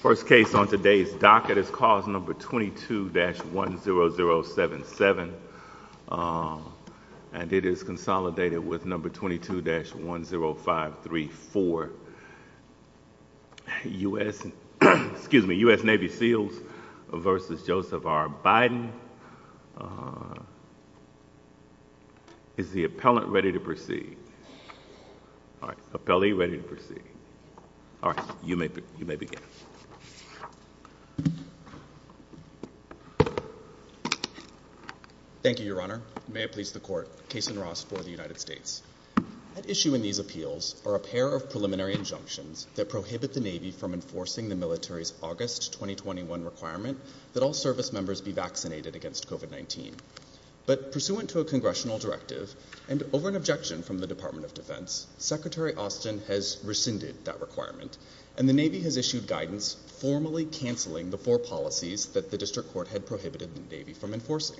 First case on today's docket is cause number 22-10077 and it is consolidated with number Is the appellant ready to proceed? All right, appellee ready to proceed. All right, you may you may begin. Thank you, Your Honor. May it please the court. Case in Ross for the United States. At issue in these appeals are a pair of preliminary injunctions that prohibit the Navy from enforcing the military's August 2021 requirement that all service members be vaccinated against COVID-19. But pursuant to a congressional directive and over an objection from the Department of Defense, Secretary Austin has rescinded that requirement and the Navy has issued guidance formally canceling the four policies that the district court had prohibited the Navy from enforcing.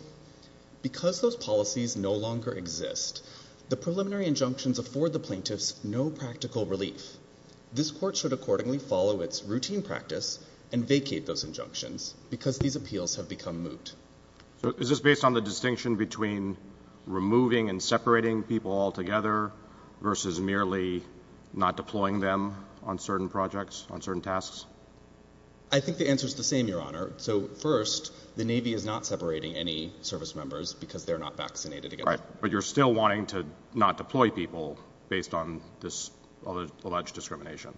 Because those policies no longer exist, the preliminary injunctions afford the plaintiffs no practical relief. This court should accordingly follow its routine practice and vacate those injunctions because these appeals have become moot. So is this based on the distinction between removing and separating people altogether versus merely not deploying them on certain projects on certain tasks? I think the answer is the same, Your Honor. So first, the Navy is not separating any service members because they're not vaccinated, but you're still wanting to not deploy people based on this alleged discrimination.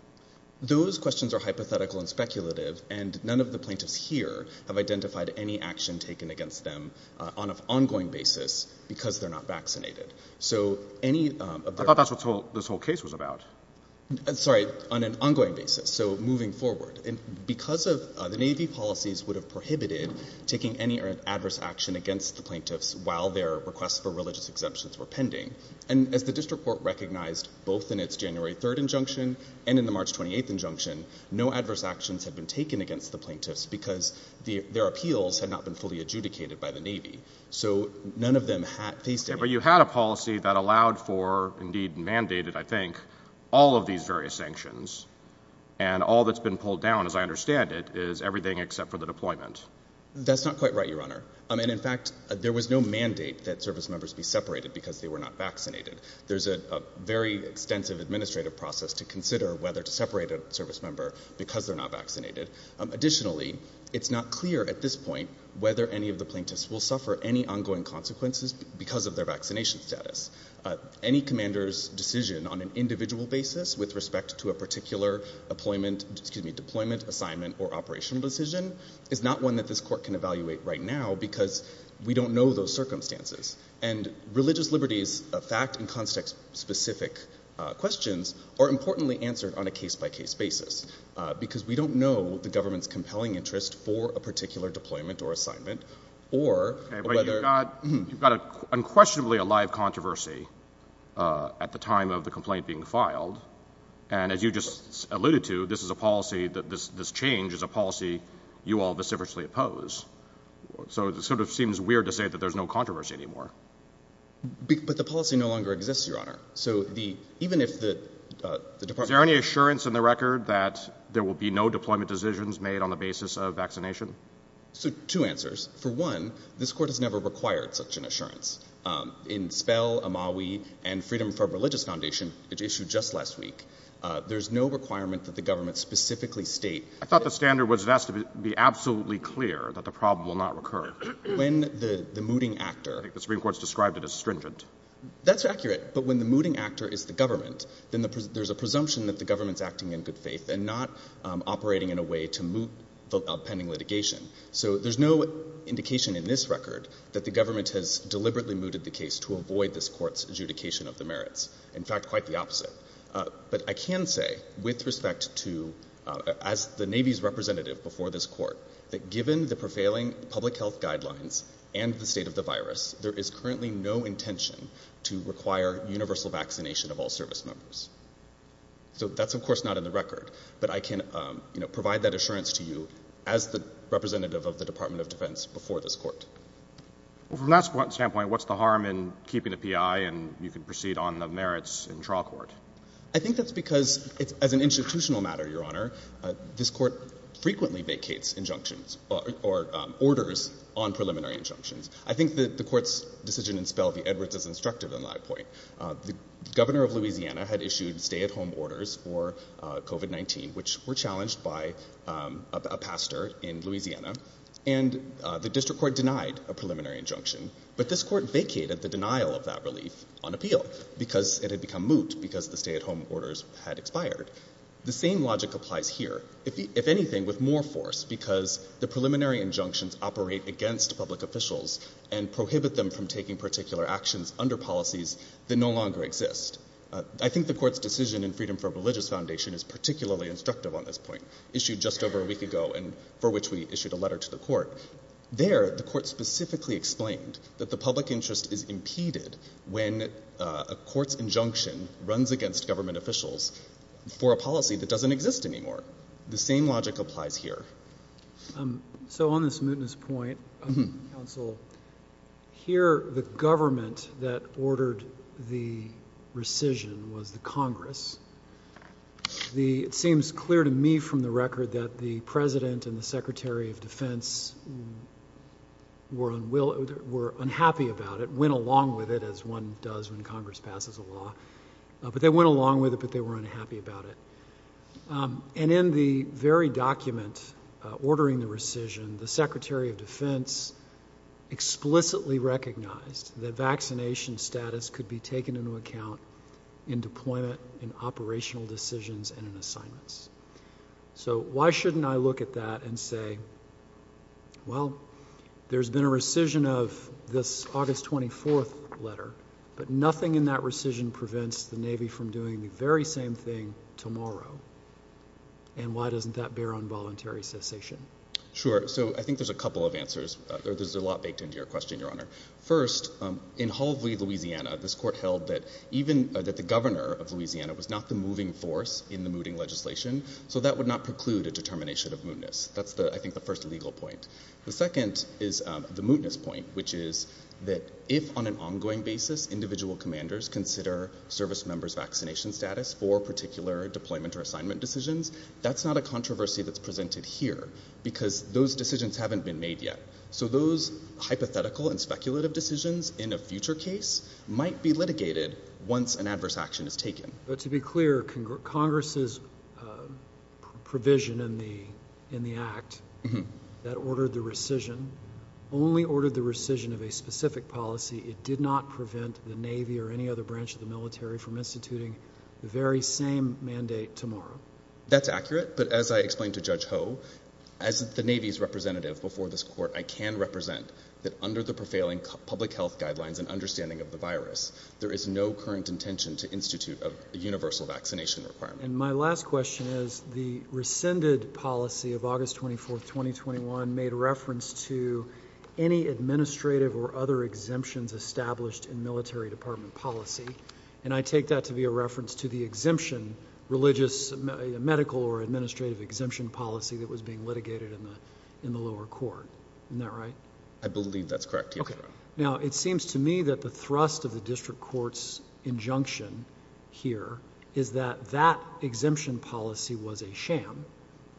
Those questions are hypothetical and speculative, and none of the plaintiffs here have identified any action taken against them on an ongoing basis because they're not vaccinated. So any of that's what this whole case was about. Sorry, on an ongoing basis. So moving forward, because of the Navy policies would have prohibited taking any adverse action against the plaintiffs while their requests for religious exemptions were pending. And as the district court recognized both in its January 3rd injunction and in the March 28th injunction, no adverse actions have been taken against the plaintiffs because their appeals had not been fully adjudicated by the Navy. So none of them faced any. You had a policy that allowed for, indeed mandated, I think, all of these various sanctions and all that's been pulled down, as I understand it, is everything except for the deployment. That's not quite right, Your Honor. And in fact, there was no mandate that service members be separated because they were not vaccinated. There's a very extensive administrative process to consider whether to separate a service member because they're not vaccinated. Additionally, it's not clear at this point whether any of the plaintiffs will suffer any ongoing consequences because of their vaccination status. Any commander's decision on an individual basis with respect to a particular deployment, assignment, or operational decision is not one that this court can evaluate right now because we don't know those circumstances. And religious liberties, fact and context specific questions, are importantly answered on a case-by-case basis because we don't know the government's compelling interest for a particular deployment or assignment or whether— You've got unquestionably a live controversy at the time of the complaint being filed. And as you just alluded to, this change is a policy you all vociferously oppose. So it sort of seems weird to say that there's no controversy anymore. But the policy no longer exists, Your Honor. So even if the Department— Is there any assurance in the record that there will be no deployment decisions made on the basis of vaccination? So two answers. For one, this court has never required such an assurance. In Spell, Amawi, and Freedom for a Religious Foundation, which issued just last week, there's no requirement that the government specifically state— I thought the standard was it has to be absolutely clear that the problem will not recur. When the mooting actor— I think the Supreme Court's described it as stringent. That's accurate. But when the mooting actor is the government, then there's a presumption that the government's acting in good faith and not operating in a way to moot the outpending litigation. So there's no indication in this record that the government has deliberately mooted the case to avoid this court's adjudication of the merits. In fact, quite the opposite. But I can say, with respect to— as the Navy's representative before this court, that given the prevailing public health guidelines and the state of the virus, there is currently no intention to require universal vaccination of all service members. So that's, of course, not in the record. But I can provide that assurance to you as the representative of the Department of Defense before this court. From that standpoint, what's the harm in keeping the PI and you can proceed on the merits in trial court? I think that's because, as an institutional matter, Your Honor, this court frequently vacates injunctions or orders on preliminary injunctions. I think that the court's decision in Spell v. Edwards is instructive on that point. The governor of Louisiana had issued stay-at-home orders for COVID-19, which were challenged by a pastor in Louisiana. And the district court denied a preliminary injunction. But this court vacated the denial of that relief on appeal because it had become moot, because the stay-at-home orders had expired. The same logic applies here, if anything, with more force, because the preliminary injunctions operate against public officials and prohibit them from taking particular actions under policies that no longer exist. I think the court's decision in Freedom for a Religious Foundation is particularly instructive on this point, issued just over a week ago and for which we issued a letter to the court. There, the court specifically explained that the public interest is impeded when a court's injunction runs against government officials for a policy that doesn't exist anymore. The same logic applies here. So on this mootness point, Counsel, here the government that ordered the rescission was the Congress. It seems clear to me from the record that the President and the Secretary of Defense were unhappy about it, went along with it, as one does when Congress passes a law. But they went along with it, but they were unhappy about it. And in the very document ordering the rescission, the Secretary of Defense explicitly recognized that vaccination status could be taken into account in deployment, in operational decisions, and in assignments. So why shouldn't I look at that and say, well, there's been a rescission of this August 24th letter, but nothing in that rescission prevents the Navy from doing the very same thing tomorrow? And why doesn't that bear on voluntary cessation? Sure. So I think there's a couple of answers. There's a lot baked into your question, Your Honor. First, in Hovely, Louisiana, this court held that even, that the governor of Louisiana was not the moving force in the mooting legislation. So that would not preclude a determination of mootness. That's the, I think, the first legal point. The second is the mootness point, which is that if, on an ongoing basis, individual commanders consider service members' vaccination status for particular deployment or assignment decisions, that's not a controversy that's presented here, because those decisions haven't been made yet. So those hypothetical and speculative decisions in a future case might be litigated once an adverse action is taken. But to be clear, Congress's provision in the Act that ordered the rescission only ordered the rescission of a specific policy. It did not prevent the Navy or any other branch of the military from instituting the very same mandate tomorrow. That's accurate. But as I explained to Judge Hove, as the Navy's representative before this court, I can represent that under the prevailing public health guidelines and understanding of the virus, there is no current intention to institute a universal vaccination requirement. And my last question is the rescinded policy of August 24th, 2021, made reference to any administrative or other exemptions established in military department policy. And I take that to be a reference to the exemption, religious, medical or administrative exemption policy that was being litigated in the lower court. Isn't that right? I believe that's correct. Okay. Now, it seems to me that the thrust of the district court's injunction here is that that exemption policy was a sham.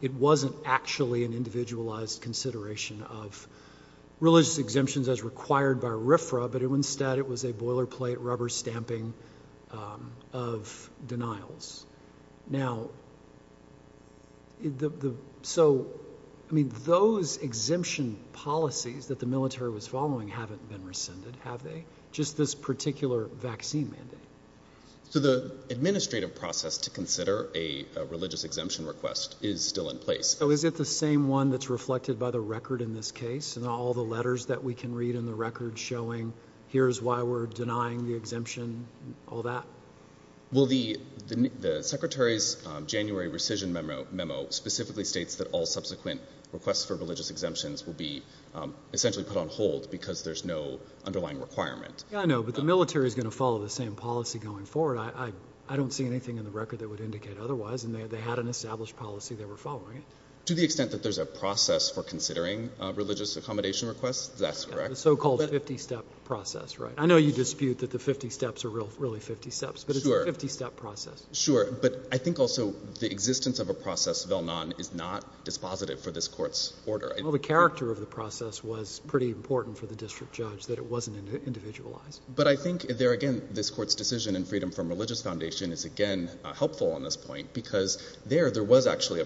It wasn't actually an individualized consideration of religious exemptions as required by RFRA, but instead it was a boilerplate rubber stamping of denials. Now, so I mean, those exemption policies that the military was following haven't been rescinded, have they? Just this particular vaccine mandate. So the administrative process to consider a religious exemption request is still in place. So is it the same one that's reflected by the record in this case and all the letters that we can read in the record showing here's why we're denying the exemption, all that? Well, the secretary's January rescission memo specifically states that all subsequent requests for religious exemptions will be essentially put on hold because there's no underlying requirement. Yeah, I know, but the military is going to follow the same policy going forward. I don't see anything in the record that would indicate otherwise, and they had an established policy they were following. To the extent that there's a process for considering religious accommodation requests, that's correct. The so-called 50-step process, right? I know you dispute that the 50 steps are really 50 steps, but it's a 50-step process. Sure, but I think also the existence of a process vel non is not dispositive for this court's order. Well, the character of the process was pretty important for the district judge that it wasn't individualized. But I think there, again, this court's decision in Freedom from Religious Foundation is, again, helpful on this point because there, there was actually a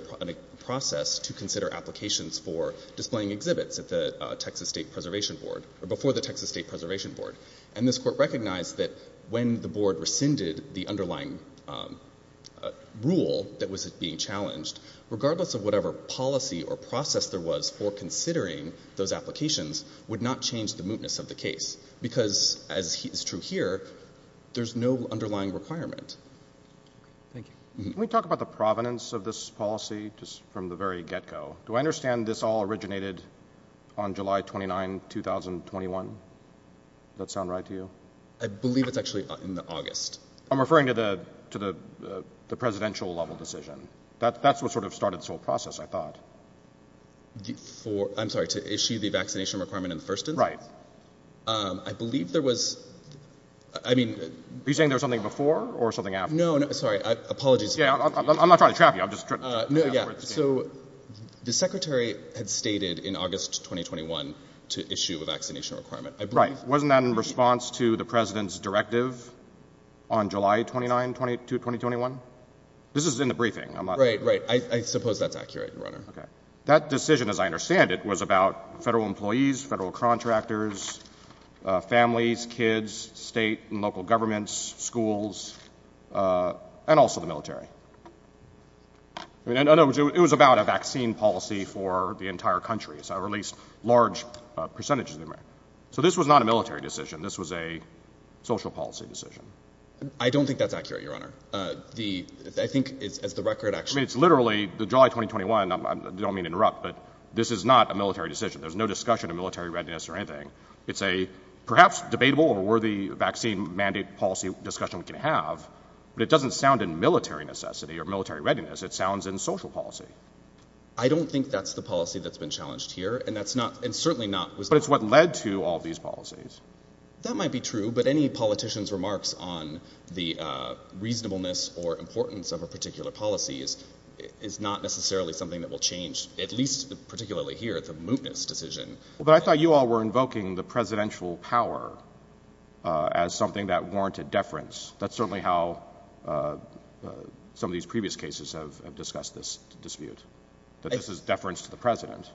process to consider applications for displaying exhibits at the Texas State Preservation Board or before the Texas State Preservation Board. And this court recognized that when the board rescinded the underlying rule that was being challenged, regardless of whatever policy or process there was for considering those applications would not change the mootness of the case because, as is true here, there's no underlying requirement. Thank you. Can we talk about the provenance of this policy just from the very get-go? Do I understand this all originated on July 29, 2021? Does that sound right to you? I believe it's actually in August. I'm referring to the presidential-level decision. That's what sort of started this whole process, I thought. I'm sorry, to issue the vaccination requirement in the first instance? Right. I believe there was, I mean— Are you saying there was something before or something after? No, no, sorry, apologies. Yeah, I'm not trying to trap you. I'm just— So, the secretary had stated in August 2021 to issue a vaccination requirement. Right. Wasn't that in response to the president's directive on July 29, 2021? This is in the briefing. Right, right. I suppose that's accurate, Your Honor. Okay. That decision, as I understand it, was about federal employees, federal contractors, families, kids, state and local governments, schools, and also the military. I mean, in other words, it was about a vaccine policy for the entire country. So, at least large percentages. So, this was not a military decision. This was a social policy decision. I don't think that's accurate, Your Honor. I think it's, as the record actually— I mean, it's literally, the July 2021, I don't mean to interrupt, but this is not a military decision. There's no discussion of military readiness or anything. It's a perhaps debatable or worthy vaccine mandate policy discussion we can have, but it doesn't sound in militariness. It doesn't sound in necessity or military readiness. It sounds in social policy. I don't think that's the policy that's been challenged here, and that's not—and certainly not— But it's what led to all these policies. That might be true, but any politician's remarks on the reasonableness or importance of a particular policy is not necessarily something that will change, at least particularly here, the mootness decision. But I thought you all were invoking the presidential power as something that warranted deference. That's certainly how some of these previous cases have discussed this dispute, that this is deference to the president.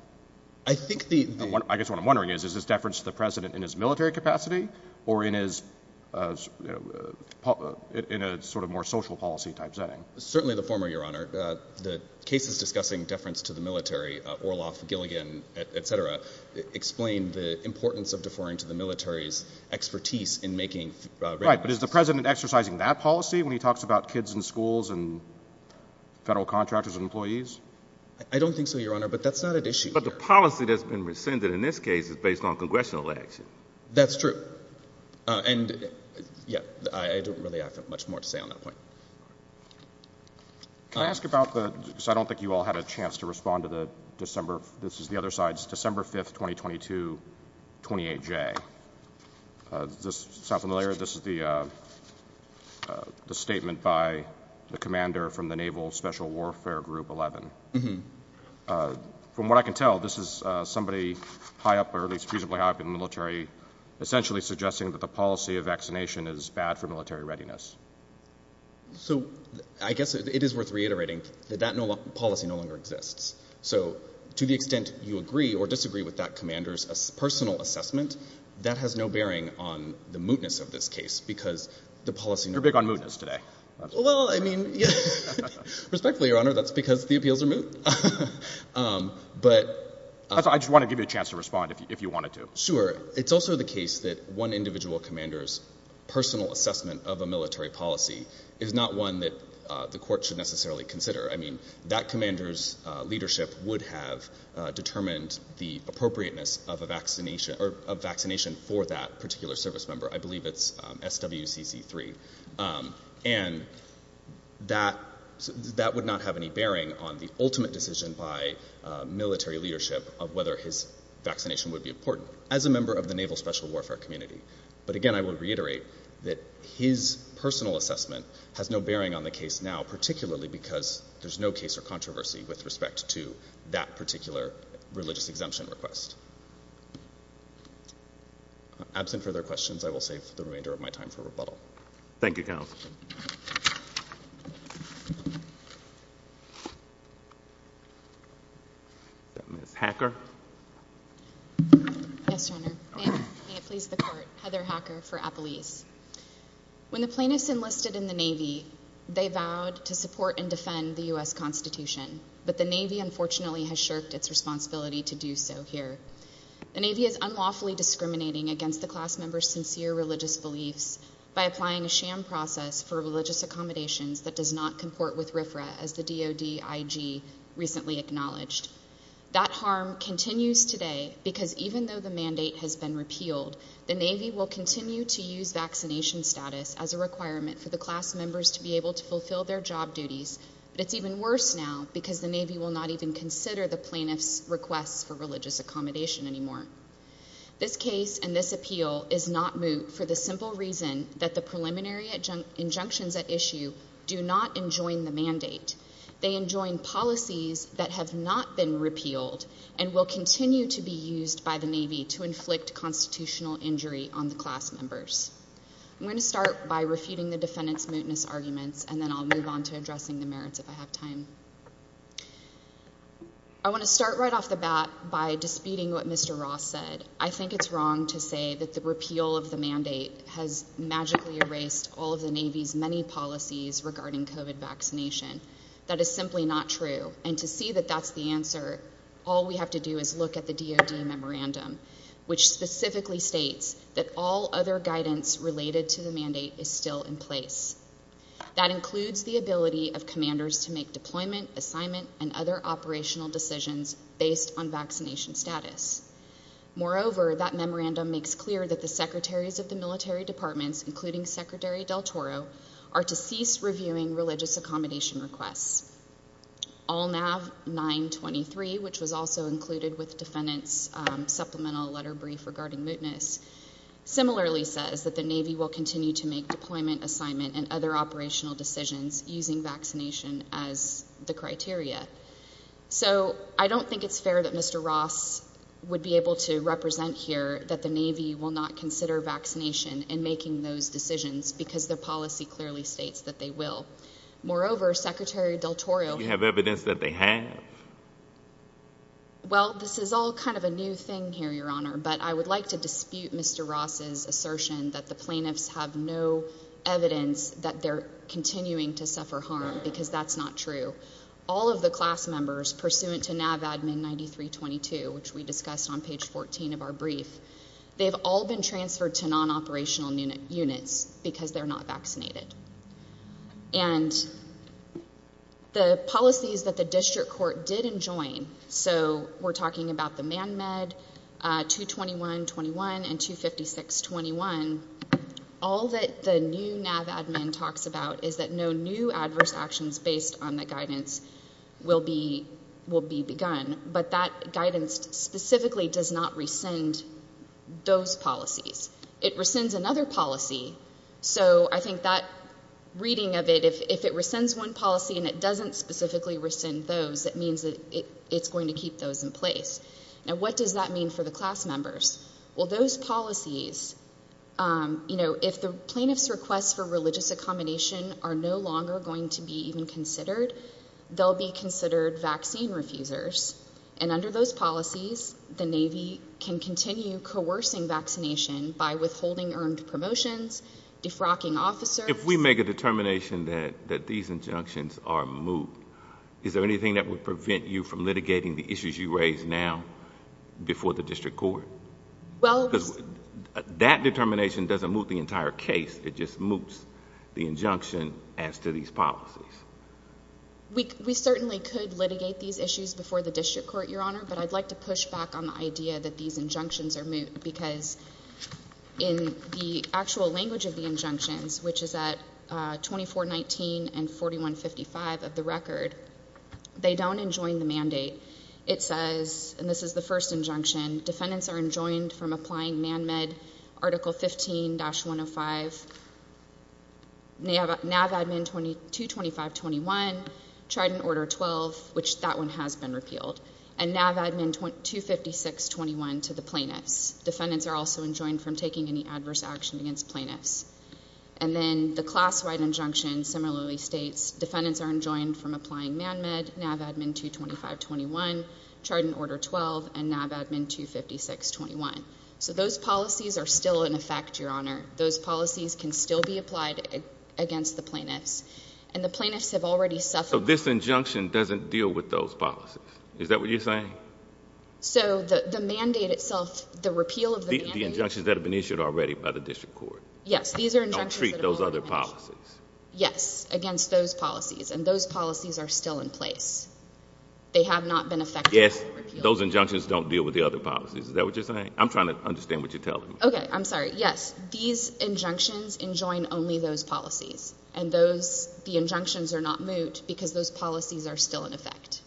I think the— I guess what I'm wondering is, is this deference to the president in his military capacity or in a sort of more social policy type setting? Certainly the former, Your Honor. The cases discussing deference to the military, Orloff, Gilligan, et cetera, explain the importance of deferring to the military's expertise in making— Right, but is the president exercising that policy when he talks about kids in schools and federal contractors and employees? I don't think so, Your Honor, but that's not at issue here. But the policy that's been rescinded in this case is based on congressional action. That's true. And, yeah, I don't really have much more to say on that point. Can I ask about the—because I don't think you all had a chance to respond to the December—this is the other side's—December 5, 2022, 28J. Does this sound familiar? This is the statement by the commander from the Naval Special Warfare Group 11. From what I can tell, this is somebody high up, or at least reasonably high up in the military, essentially suggesting that the policy of vaccination is bad for military readiness. So I guess it is worth reiterating that that policy no longer exists. So to the extent you agree or disagree with that commander's personal assessment, that has no bearing on the mootness of this case because the policy— You're big on mootness today. Well, I mean—respectfully, Your Honor, that's because the appeals are moot. But— I just want to give you a chance to respond if you wanted to. Sure. It's also the case that one individual commander's personal assessment of a military policy is not one that the court should necessarily consider. I mean, that commander's leadership would have determined the appropriateness of a vaccination for that particular service member. I believe it's SWCC3. And that would not have any bearing on the ultimate decision by military leadership of whether his vaccination would be important as a member of the Naval Special Warfare community. But, again, I would reiterate that his personal assessment has no bearing on the case now, particularly because there's no case or controversy with respect to that particular religious exemption request. Absent further questions, I will save the remainder of my time for rebuttal. Thank you, counsel. Ms. Hacker. Yes, Your Honor. May it please the Court. Heather Hacker for Appelese. When the plaintiffs enlisted in the Navy, they vowed to support and defend the U.S. Constitution. But the Navy, unfortunately, has shirked its responsibility to do so here. The Navy is unlawfully discriminating against the class members' sincere religious beliefs by applying a sham process for religious accommodations that does not comport with RFRA, as the DoD IG recently acknowledged. That harm continues today because even though the mandate has been repealed, the Navy will continue to use vaccination status as a requirement for the class members to be able to fulfill their job duties. But it's even worse now because the Navy will not even consider the plaintiffs' requests for religious accommodation anymore. This case and this appeal is not moot for the simple reason that the preliminary injunctions at issue do not enjoin the mandate. They enjoin policies that have not been repealed and will continue to be used by the Navy to inflict constitutional injury on the class members. I'm going to start by refuting the defendants' mootness arguments, and then I'll move on to addressing the merits if I have time. I want to start right off the bat by disputing what Mr. Ross said. I think it's wrong to say that the repeal of the mandate has magically erased all of the Navy's many policies regarding COVID vaccination. That is simply not true. And to see that that's the answer, all we have to do is look at the DoD memorandum, which specifically states that all other guidance related to the mandate is still in place. That includes the ability of commanders to make deployment, assignment, and other operational decisions based on vaccination status. Moreover, that memorandum makes clear that the secretaries of the military departments, including Secretary Del Toro, are to cease reviewing religious accommodation requests. All NAV 923, which was also included with defendants' supplemental letter brief regarding mootness, similarly says that the Navy will continue to make deployment, assignment, and other operational decisions using vaccination as the criteria. So I don't think it's fair that Mr. Ross would be able to represent here that the Navy will not consider vaccination in making those decisions because the policy clearly states that they will. Moreover, Secretary Del Toro— You have evidence that they have. Well, this is all kind of a new thing here, Your Honor, but I would like to dispute Mr. Ross's assertion that the plaintiffs have no evidence that they're continuing to suffer harm because that's not true. All of the class members pursuant to NAV Admin 9322, which we discussed on page 14 of our brief, they've all been transferred to non-operational units because they're not vaccinated. And the policies that the district court did enjoin—so we're talking about the MANMED 22121 and 25621—all that the new NAV Admin talks about is that no new adverse actions based on the guidance will be begun. But that guidance specifically does not rescind those policies. It rescinds another policy. So I think that reading of it, if it rescinds one policy and it doesn't specifically rescind those, that means that it's going to keep those in place. Now, what does that mean for the class members? Well, those policies—you know, if the plaintiff's requests for religious accommodation are no longer going to be even considered, they'll be considered vaccine refusers. And under those policies, the Navy can continue coercing vaccination by withholding earned promotions, defrocking officers— But if we make a determination that these injunctions are moot, is there anything that would prevent you from litigating the issues you raise now before the district court? Well— Because that determination doesn't moot the entire case. It just moots the injunction as to these policies. We certainly could litigate these issues before the district court, Your Honor. But I'd like to push back on the idea that these injunctions are moot because in the actual language of the injunctions, which is at 2419 and 4155 of the record, they don't enjoin the mandate. It says—and this is the first injunction— NAV Admin 22521, Trident Order 12, which that one has been repealed, and NAV Admin 25621 to the plaintiffs. Defendants are also enjoined from taking any adverse action against plaintiffs. And then the class-wide injunction similarly states defendants are enjoined from applying MANMED, NAV Admin 22521, Trident Order 12, and NAV Admin 25621. So those policies are still in effect, Your Honor. Those policies can still be applied against the plaintiffs. And the plaintiffs have already suffered— So this injunction doesn't deal with those policies. Is that what you're saying? So the mandate itself, the repeal of the mandate— The injunctions that have been issued already by the district court. Yes, these are injunctions that have already been issued. Don't treat those other policies. Yes, against those policies. And those policies are still in place. They have not been affected by the repeal. Yes, those injunctions don't deal with the other policies. Is that what you're saying? I'm trying to understand what you're telling me. Okay, I'm sorry. Yes, these injunctions enjoin only those policies. And the injunctions are not moot because those policies are still in effect.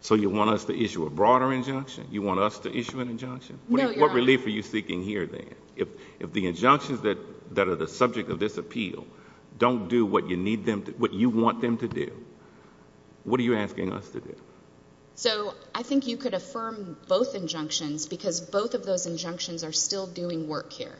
So you want us to issue a broader injunction? You want us to issue an injunction? No, Your Honor. What relief are you seeking here then? If the injunctions that are the subject of this appeal don't do what you want them to do, what are you asking us to do? So I think you could affirm both injunctions because both of those injunctions are still doing work here.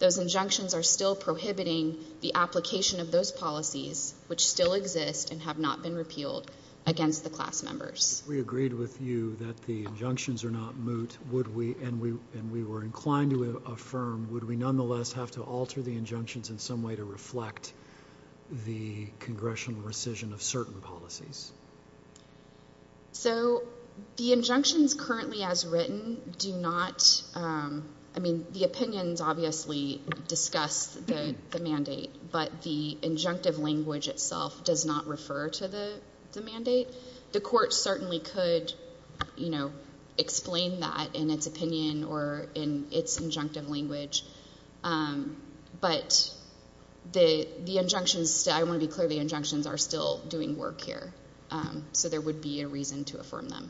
Those injunctions are still prohibiting the application of those policies, which still exist and have not been repealed, against the class members. If we agreed with you that the injunctions are not moot and we were inclined to affirm, would we nonetheless have to alter the injunctions in some way to reflect the congressional rescission of certain policies? So the injunctions currently as written do not, I mean, the opinions obviously discuss the mandate, but the injunctive language itself does not refer to the mandate. The court certainly could explain that in its opinion or in its injunctive language, but the injunctions, I want to be clear, the injunctions are still doing work here, so there would be a reason to affirm them.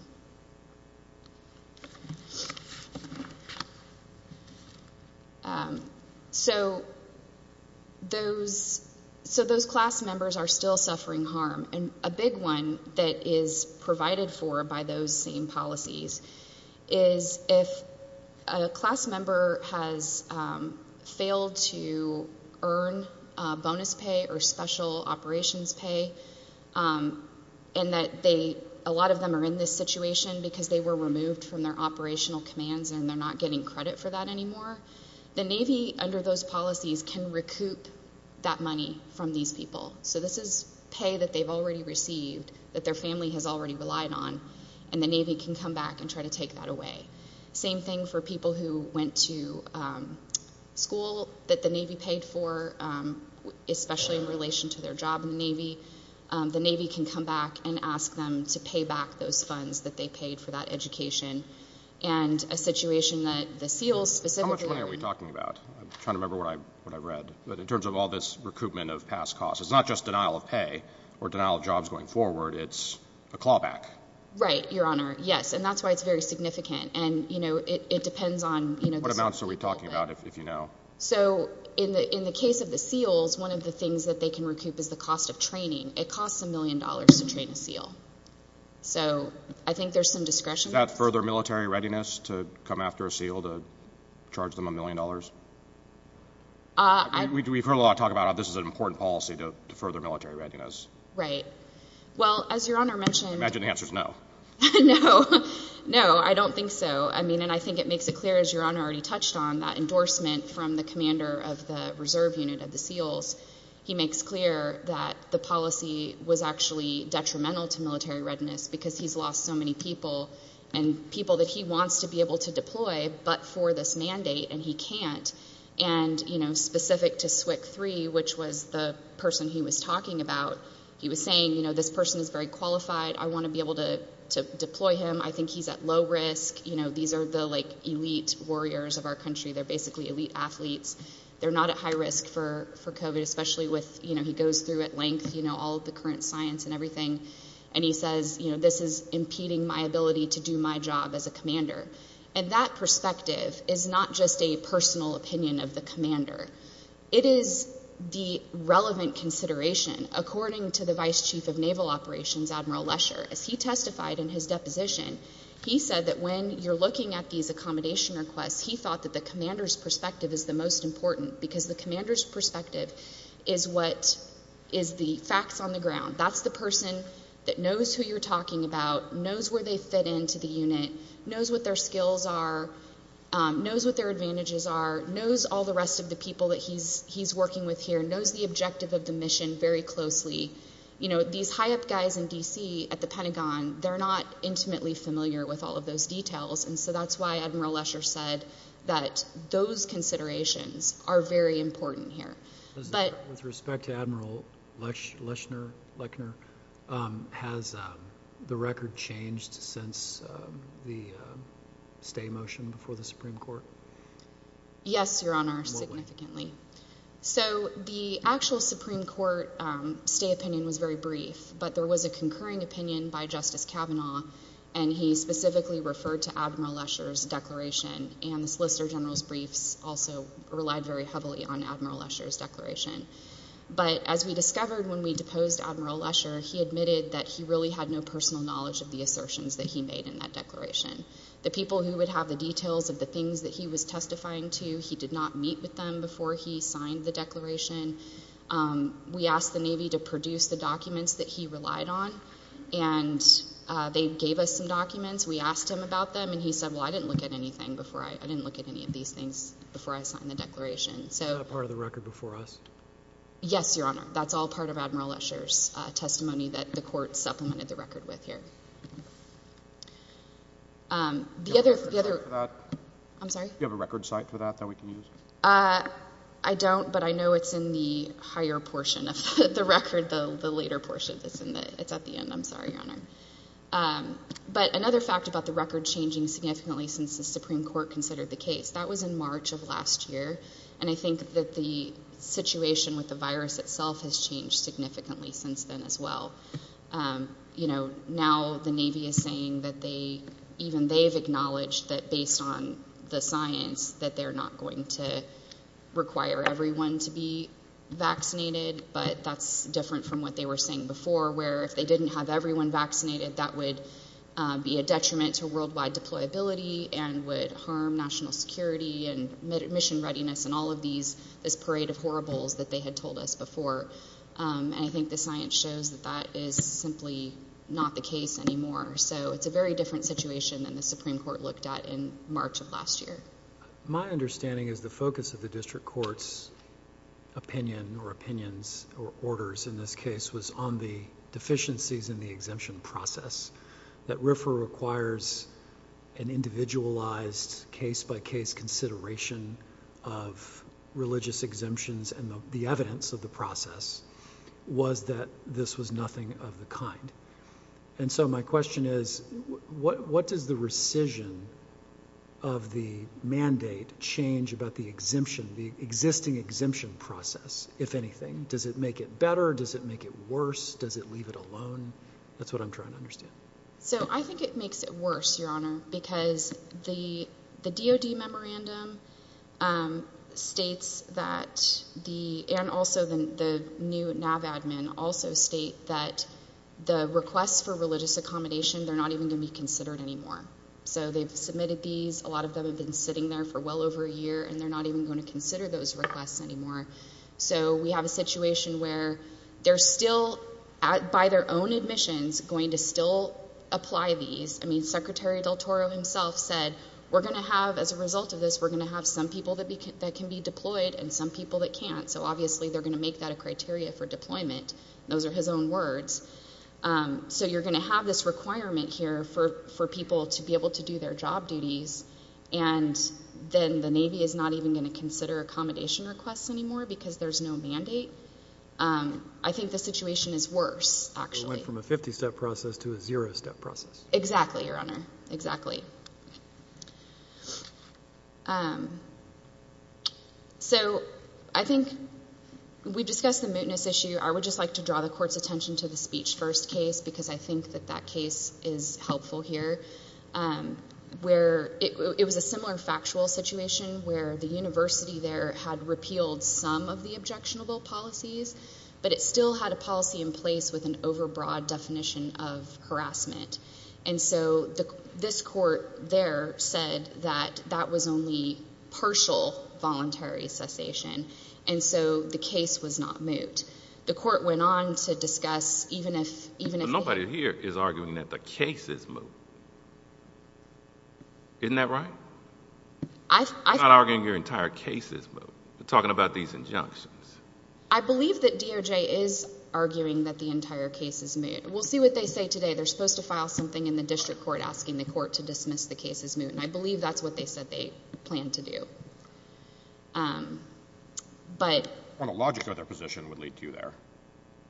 So those class members are still suffering harm, and a big one that is provided for by those same policies is if a class member has failed to earn bonus pay or special operations pay and that a lot of them are in this situation because they were removed from their operational commands and they're not getting credit for that anymore, the Navy under those policies can recoup that money from these people. So this is pay that they've already received, that their family has already relied on, and the Navy can come back and try to take that away. Same thing for people who went to school that the Navy paid for, especially in relation to their job in the Navy. The Navy can come back and ask them to pay back those funds that they paid for that education, and a situation that the SEALs specifically are in. How much money are we talking about? I'm trying to remember what I read, but in terms of all this recoupment of past costs, it's not just denial of pay or denial of jobs going forward. It's a clawback. Right, Your Honor, yes, and that's why it's very significant, and it depends on this whole thing. What amounts are we talking about, if you know? So in the case of the SEALs, one of the things that they can recoup is the cost of training. It costs a million dollars to train a SEAL. So I think there's some discretion. Is that further military readiness to come after a SEAL to charge them a million dollars? We've heard a lot of talk about how this is an important policy to further military readiness. Right. Well, as Your Honor mentioned— I imagine the answer is no. No. No, I don't think so. I mean, and I think it makes it clear, as Your Honor already touched on, that endorsement from the commander of the reserve unit of the SEALs, he makes clear that the policy was actually detrimental to military readiness because he's lost so many people, and people that he wants to be able to deploy but for this mandate, and he can't. And, you know, specific to SWCC-3, which was the person he was talking about, he was saying, you know, this person is very qualified. I want to be able to deploy him. I think he's at low risk. You know, these are the, like, elite warriors of our country. They're basically elite athletes. They're not at high risk for COVID, especially with, you know, he goes through at length, you know, all of the current science and everything, and he says, you know, this is impeding my ability to do my job as a commander. And that perspective is not just a personal opinion of the commander. It is the relevant consideration. According to the Vice Chief of Naval Operations, Admiral Lesher, as he testified in his deposition, he said that when you're looking at these accommodation requests, he thought that the commander's perspective is the most important because the commander's perspective is what is the facts on the ground. That's the person that knows who you're talking about, knows where they fit into the unit, knows what their skills are, knows what their advantages are, knows all the rest of the people that he's working with here, knows the objective of the mission very closely. You know, these high-up guys in D.C. at the Pentagon, they're not intimately familiar with all of those details, and so that's why Admiral Lesher said that those considerations are very important here. With respect to Admiral Lesher, has the record changed since the stay motion before the Supreme Court? Yes, Your Honor, significantly. So the actual Supreme Court stay opinion was very brief, but there was a concurring opinion by Justice Kavanaugh, and he specifically referred to Admiral Lesher's declaration, and the Solicitor General's briefs also relied very heavily on Admiral Lesher's declaration. But as we discovered when we deposed Admiral Lesher, he admitted that he really had no personal knowledge of the assertions that he made in that declaration. The people who would have the details of the things that he was testifying to, he did not meet with them before he signed the declaration. We asked the Navy to produce the documents that he relied on, and they gave us some documents. We asked him about them, and he said, well, I didn't look at any of these things before I signed the declaration. Is that a part of the record before us? Yes, Your Honor. That's all part of Admiral Lesher's testimony that the court supplemented the record with here. Do you have a record for that? I'm sorry? I don't, but I know it's in the higher portion of the record, the later portion that's in it. It's at the end. I'm sorry, Your Honor. But another fact about the record changing significantly since the Supreme Court considered the case, that was in March of last year, and I think that the situation with the virus itself has changed significantly since then as well. You know, now the Navy is saying that they, even they've acknowledged that based on the science, that they're not going to require everyone to be vaccinated, but that's different from what they were saying before, where if they didn't have everyone vaccinated, that would be a detriment to worldwide deployability and would harm national security and mission readiness and all of this parade of horribles that they had told us before, and I think the science shows that that is simply not the case anymore. So it's a very different situation than the Supreme Court looked at in March of last year. My understanding is the focus of the district court's opinion or opinions or orders in this case was on the deficiencies in the exemption process, that RFRA requires an individualized case-by-case consideration of religious exemptions, and the evidence of the process was that this was nothing of the kind. And so my question is what does the rescission of the mandate change about the exemption, the existing exemption process, if anything? Does it make it better? Does it make it worse? Does it leave it alone? That's what I'm trying to understand. So I think it makes it worse, Your Honor, because the DOD memorandum states that the, and also the new NAV admin also state that the requests for religious accommodation, they're not even going to be considered anymore. So they've submitted these. A lot of them have been sitting there for well over a year, and they're not even going to consider those requests anymore. So we have a situation where they're still, by their own admissions, going to still apply these. I mean, Secretary Del Toro himself said we're going to have, as a result of this, we're going to have some people that can be deployed and some people that can't. So obviously they're going to make that a criteria for deployment. Those are his own words. So you're going to have this requirement here for people to be able to do their job duties, and then the Navy is not even going to consider accommodation requests anymore because there's no mandate. I think the situation is worse, actually. It went from a 50-step process to a zero-step process. Exactly, Your Honor, exactly. So I think we discussed the mootness issue. I would just like to draw the Court's attention to the speech-first case because I think that that case is helpful here, where it was a similar factual situation where the university there had repealed some of the objectionable policies, but it still had a policy in place with an overbroad definition of harassment. And so this Court there said that that was only partial voluntary cessation, and so the case was not moot. The Court went on to discuss, even if it had... But nobody here is arguing that the case is moot. Isn't that right? I've... You're not arguing your entire case is moot. You're talking about these injunctions. I believe that DOJ is arguing that the entire case is moot. We'll see what they say today. They're supposed to file something in the district court asking the court to dismiss the case as moot, and I believe that's what they said they planned to do. But... Well, the logic of their position would lead you there.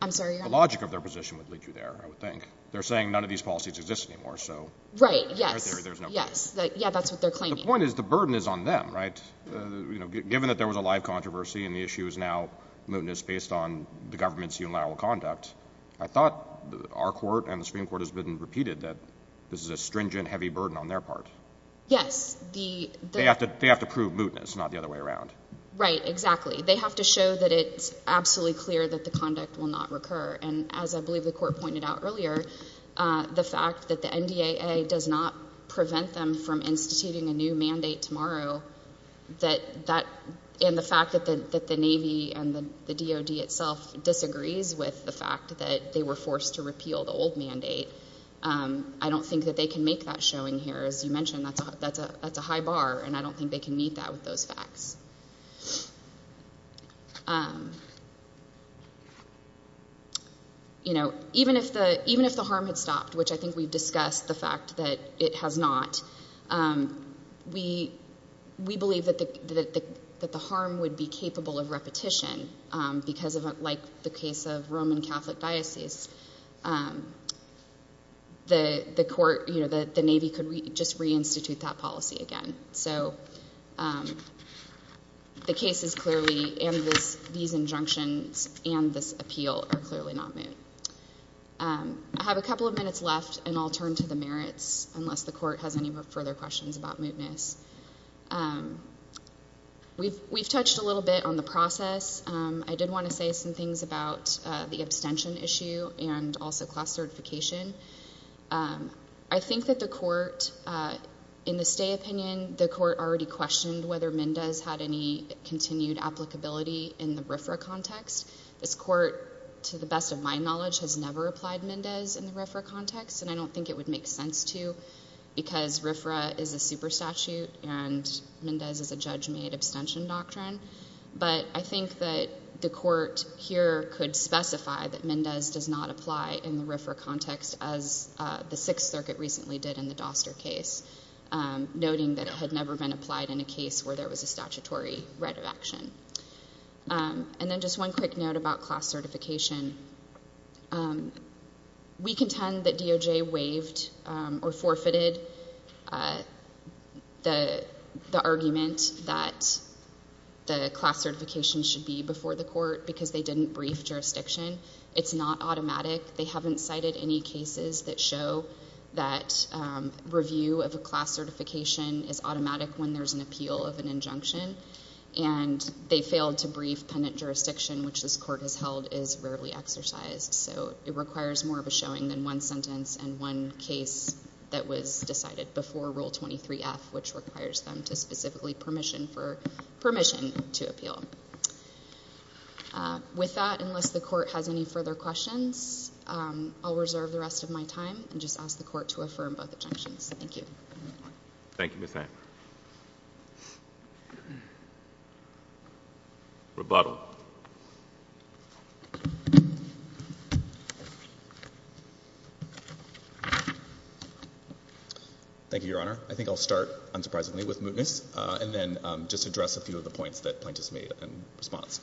I'm sorry, Your Honor. The logic of their position would lead you there, I would think. They're saying none of these policies exist anymore, so... Right, yes, yes. Yeah, that's what they're claiming. The point is the burden is on them, right? Given that there was a live controversy and the issue is now mootness based on the government's unilateral conduct, I thought our court and the Supreme Court has been repeated that this is a stringent, heavy burden on their part. Yes, the... They have to prove mootness, not the other way around. Right, exactly. They have to show that it's absolutely clear that the conduct will not recur. And as I believe the Court pointed out earlier, the fact that the NDAA does not prevent them from instituting a new mandate tomorrow, and the fact that the Navy and the DoD itself disagrees with the fact that they were forced to repeal the old mandate, I don't think that they can make that showing here. As you mentioned, that's a high bar, and I don't think they can meet that with those facts. You know, even if the harm had stopped, which I think we've discussed the fact that it has not, we believe that the harm would be capable of repetition because, like the case of Roman Catholic Diocese, the Navy could just reinstitute that policy again. So the case is clearly, and these injunctions and this appeal are clearly not moot. I have a couple of minutes left, and I'll turn to the merits, unless the Court has any further questions about mootness. We've touched a little bit on the process. I did want to say some things about the abstention issue and also class certification. I think that the Court, in the stay opinion, the Court already questioned whether MNDA has had any continued applicability in the RFRA context. This Court, to the best of my knowledge, has never applied MNDAs in the RFRA context, and I don't think it would make sense to because RFRA is a super statute and MNDAs is a judge-made abstention doctrine. But I think that the Court here could specify that MNDAs does not apply in the RFRA context as the Sixth Circuit recently did in the Doster case, noting that it had never been applied in a case where there was a statutory right of action. And then just one quick note about class certification. We contend that DOJ waived or forfeited the argument that the class certification should be before the Court because they didn't brief jurisdiction. It's not automatic. They haven't cited any cases that show that review of a class certification is automatic when there's an appeal of an injunction. And they failed to brief pendant jurisdiction, which this Court has held is rarely exercised. So it requires more of a showing than one sentence and one case that was decided before Rule 23F, which requires them to specifically permission to appeal. With that, unless the Court has any further questions, I'll reserve the rest of my time and just ask the Court to affirm both objections. Thank you. Thank you, Ms. Hamm. Rebuttal. Thank you, Your Honor. I think I'll start, unsurprisingly, with mootness and then just address a few of the points that plaintiffs made in response.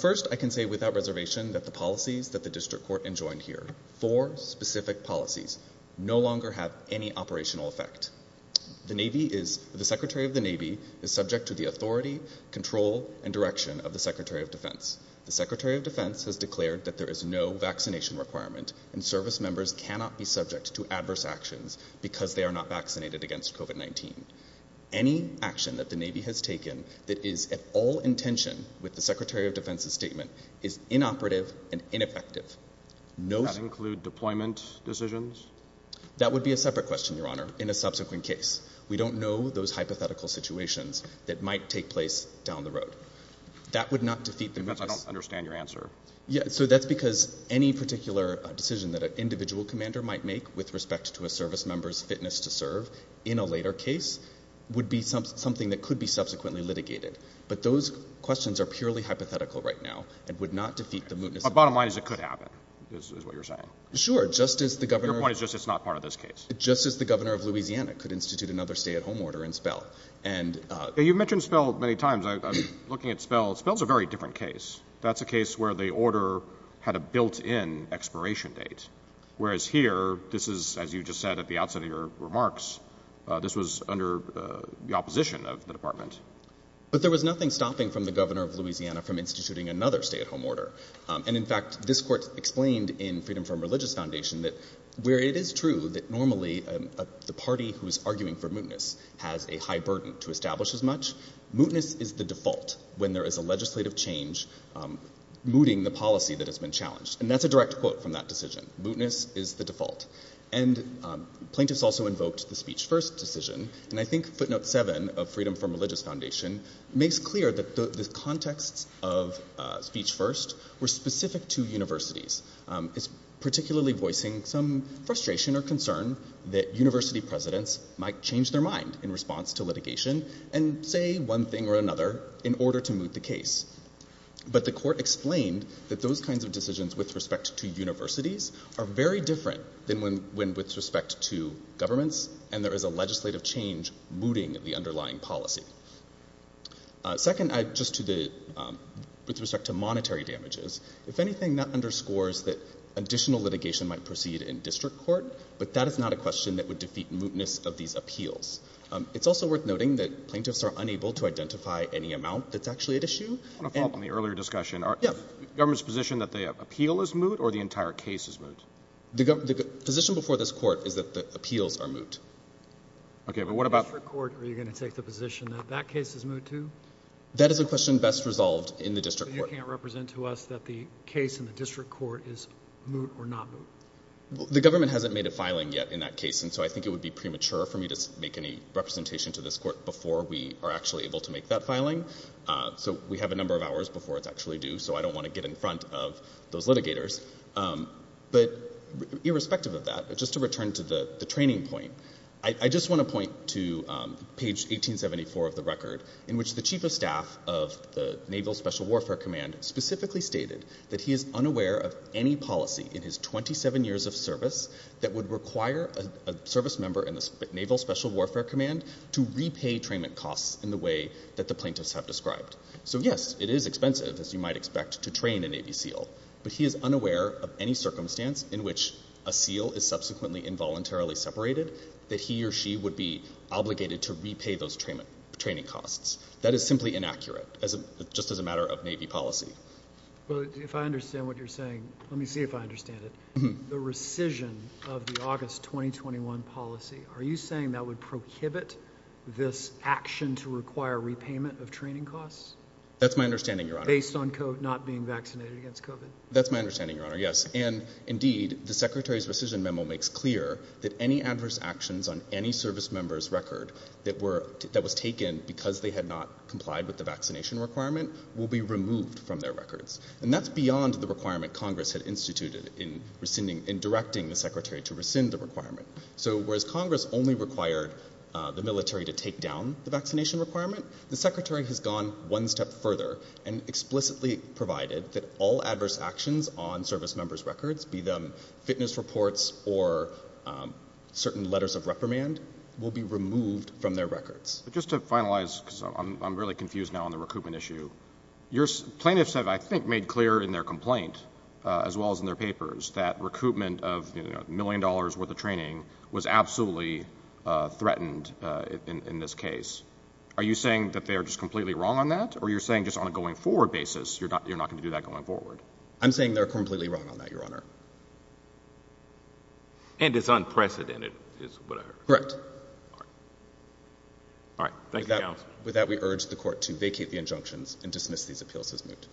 First, I can say without reservation that the policies that the District Court enjoined here, four specific policies, no longer have any operational effect. The Secretary of the Navy is subject to the authority, control, and direction of the Secretary of Defense. The Secretary of Defense has declared that there is no vaccination requirement and service members cannot be subject to adverse actions because they are not vaccinated against COVID-19. Any action that the Navy has taken that is at all in tension with the Secretary of Defense's statement is inoperative and ineffective. Does that include deployment decisions? That would be a separate question, Your Honor, in a subsequent case. We don't know those hypothetical situations that might take place down the road. That would not defeat the mootness. I don't understand your answer. So that's because any particular decision that an individual commander might make with respect to a service member's fitness to serve in a later case would be something that could be subsequently litigated. But those questions are purely hypothetical right now and would not defeat the mootness. Bottom line is it could happen, is what you're saying. Sure. Your point is just it's not part of this case. Just as the governor of Louisiana could institute another stay-at-home order in Spell. You've mentioned Spell many times. I'm looking at Spell. Spell's a very different case. That's a case where the order had a built-in expiration date, whereas here this is, as you just said at the outset of your remarks, this was under the opposition of the department. But there was nothing stopping from the governor of Louisiana from instituting another stay-at-home order. And, in fact, this court explained in Freedom from Religious Foundation that where it is true that normally the party who is arguing for mootness has a high burden to establish as much, mootness is the default when there is a legislative change mooting the policy that has been challenged. And that's a direct quote from that decision. Mootness is the default. And plaintiffs also invoked the Speech First decision. And I think footnote 7 of Freedom from Religious Foundation makes clear that the context of Speech First were specific to universities. It's particularly voicing some frustration or concern that university presidents might change their mind in response to litigation and say one thing or another in order to moot the case. But the court explained that those kinds of decisions with respect to universities are very different than when with respect to governments and there is a legislative change mooting the underlying policy. Second, just with respect to monetary damages, if anything, that underscores that additional litigation might proceed in district court, but that is not a question that would defeat mootness of these appeals. It's also worth noting that plaintiffs are unable to identify any amount that's actually at issue. I want to follow up on the earlier discussion. The government's position that the appeal is moot or the entire case is moot? The position before this court is that the appeals are moot. Okay, but what about... The district court, are you going to take the position that that case is moot too? That is a question best resolved in the district court. You can't represent to us that the case in the district court is moot or not moot. The government hasn't made a filing yet in that case and so I think it would be premature for me to make any representation to this court before we are actually able to make that filing. So we have a number of hours before it's actually due, so I don't want to get in front of those litigators. But irrespective of that, just to return to the training point, I just want to point to page 1874 of the record in which the chief of staff of the Naval Special Warfare Command specifically stated that he is unaware of any policy in his 27 years of service that would require a service member in the Naval Special Warfare Command to repay trainment costs in the way that the plaintiffs have described. So yes, it is expensive, as you might expect, to train a Navy SEAL, but he is unaware of any circumstance in which a SEAL is subsequently involuntarily separated that he or she would be obligated to repay those training costs. That is simply inaccurate, just as a matter of Navy policy. Well, if I understand what you're saying, let me see if I understand it. The rescission of the August 2021 policy, are you saying that would prohibit this action to require repayment of training costs? That's my understanding, Your Honor. Based on not being vaccinated against COVID? That's my understanding, Your Honor, yes. And indeed, the Secretary's rescission memo makes clear that any adverse actions on any service member's record that was taken because they had not complied with the vaccination requirement will be removed from their records. And that's beyond the requirement Congress had instituted in directing the Secretary to rescind the requirement. So whereas Congress only required the military to take down the vaccination requirement, the Secretary has gone one step further and explicitly provided that all adverse actions on service members' records, be them fitness reports or certain letters of reprimand, will be removed from their records. Just to finalize, because I'm really confused now on the recoupment issue, plaintiffs have, I think, made clear in their complaint, as well as in their papers, that recoupment of a million dollars worth of training was absolutely threatened in this case. Are you saying that they are just completely wrong on that? Or are you saying just on a going-forward basis you're not going to do that going forward? I'm saying they're completely wrong on that, Your Honor. And it's unprecedented, is what I heard. Correct. All right. Thank you, Counsel. With that, we urge the Court to vacate the injunctions and dismiss these appeals as moot. Thank you.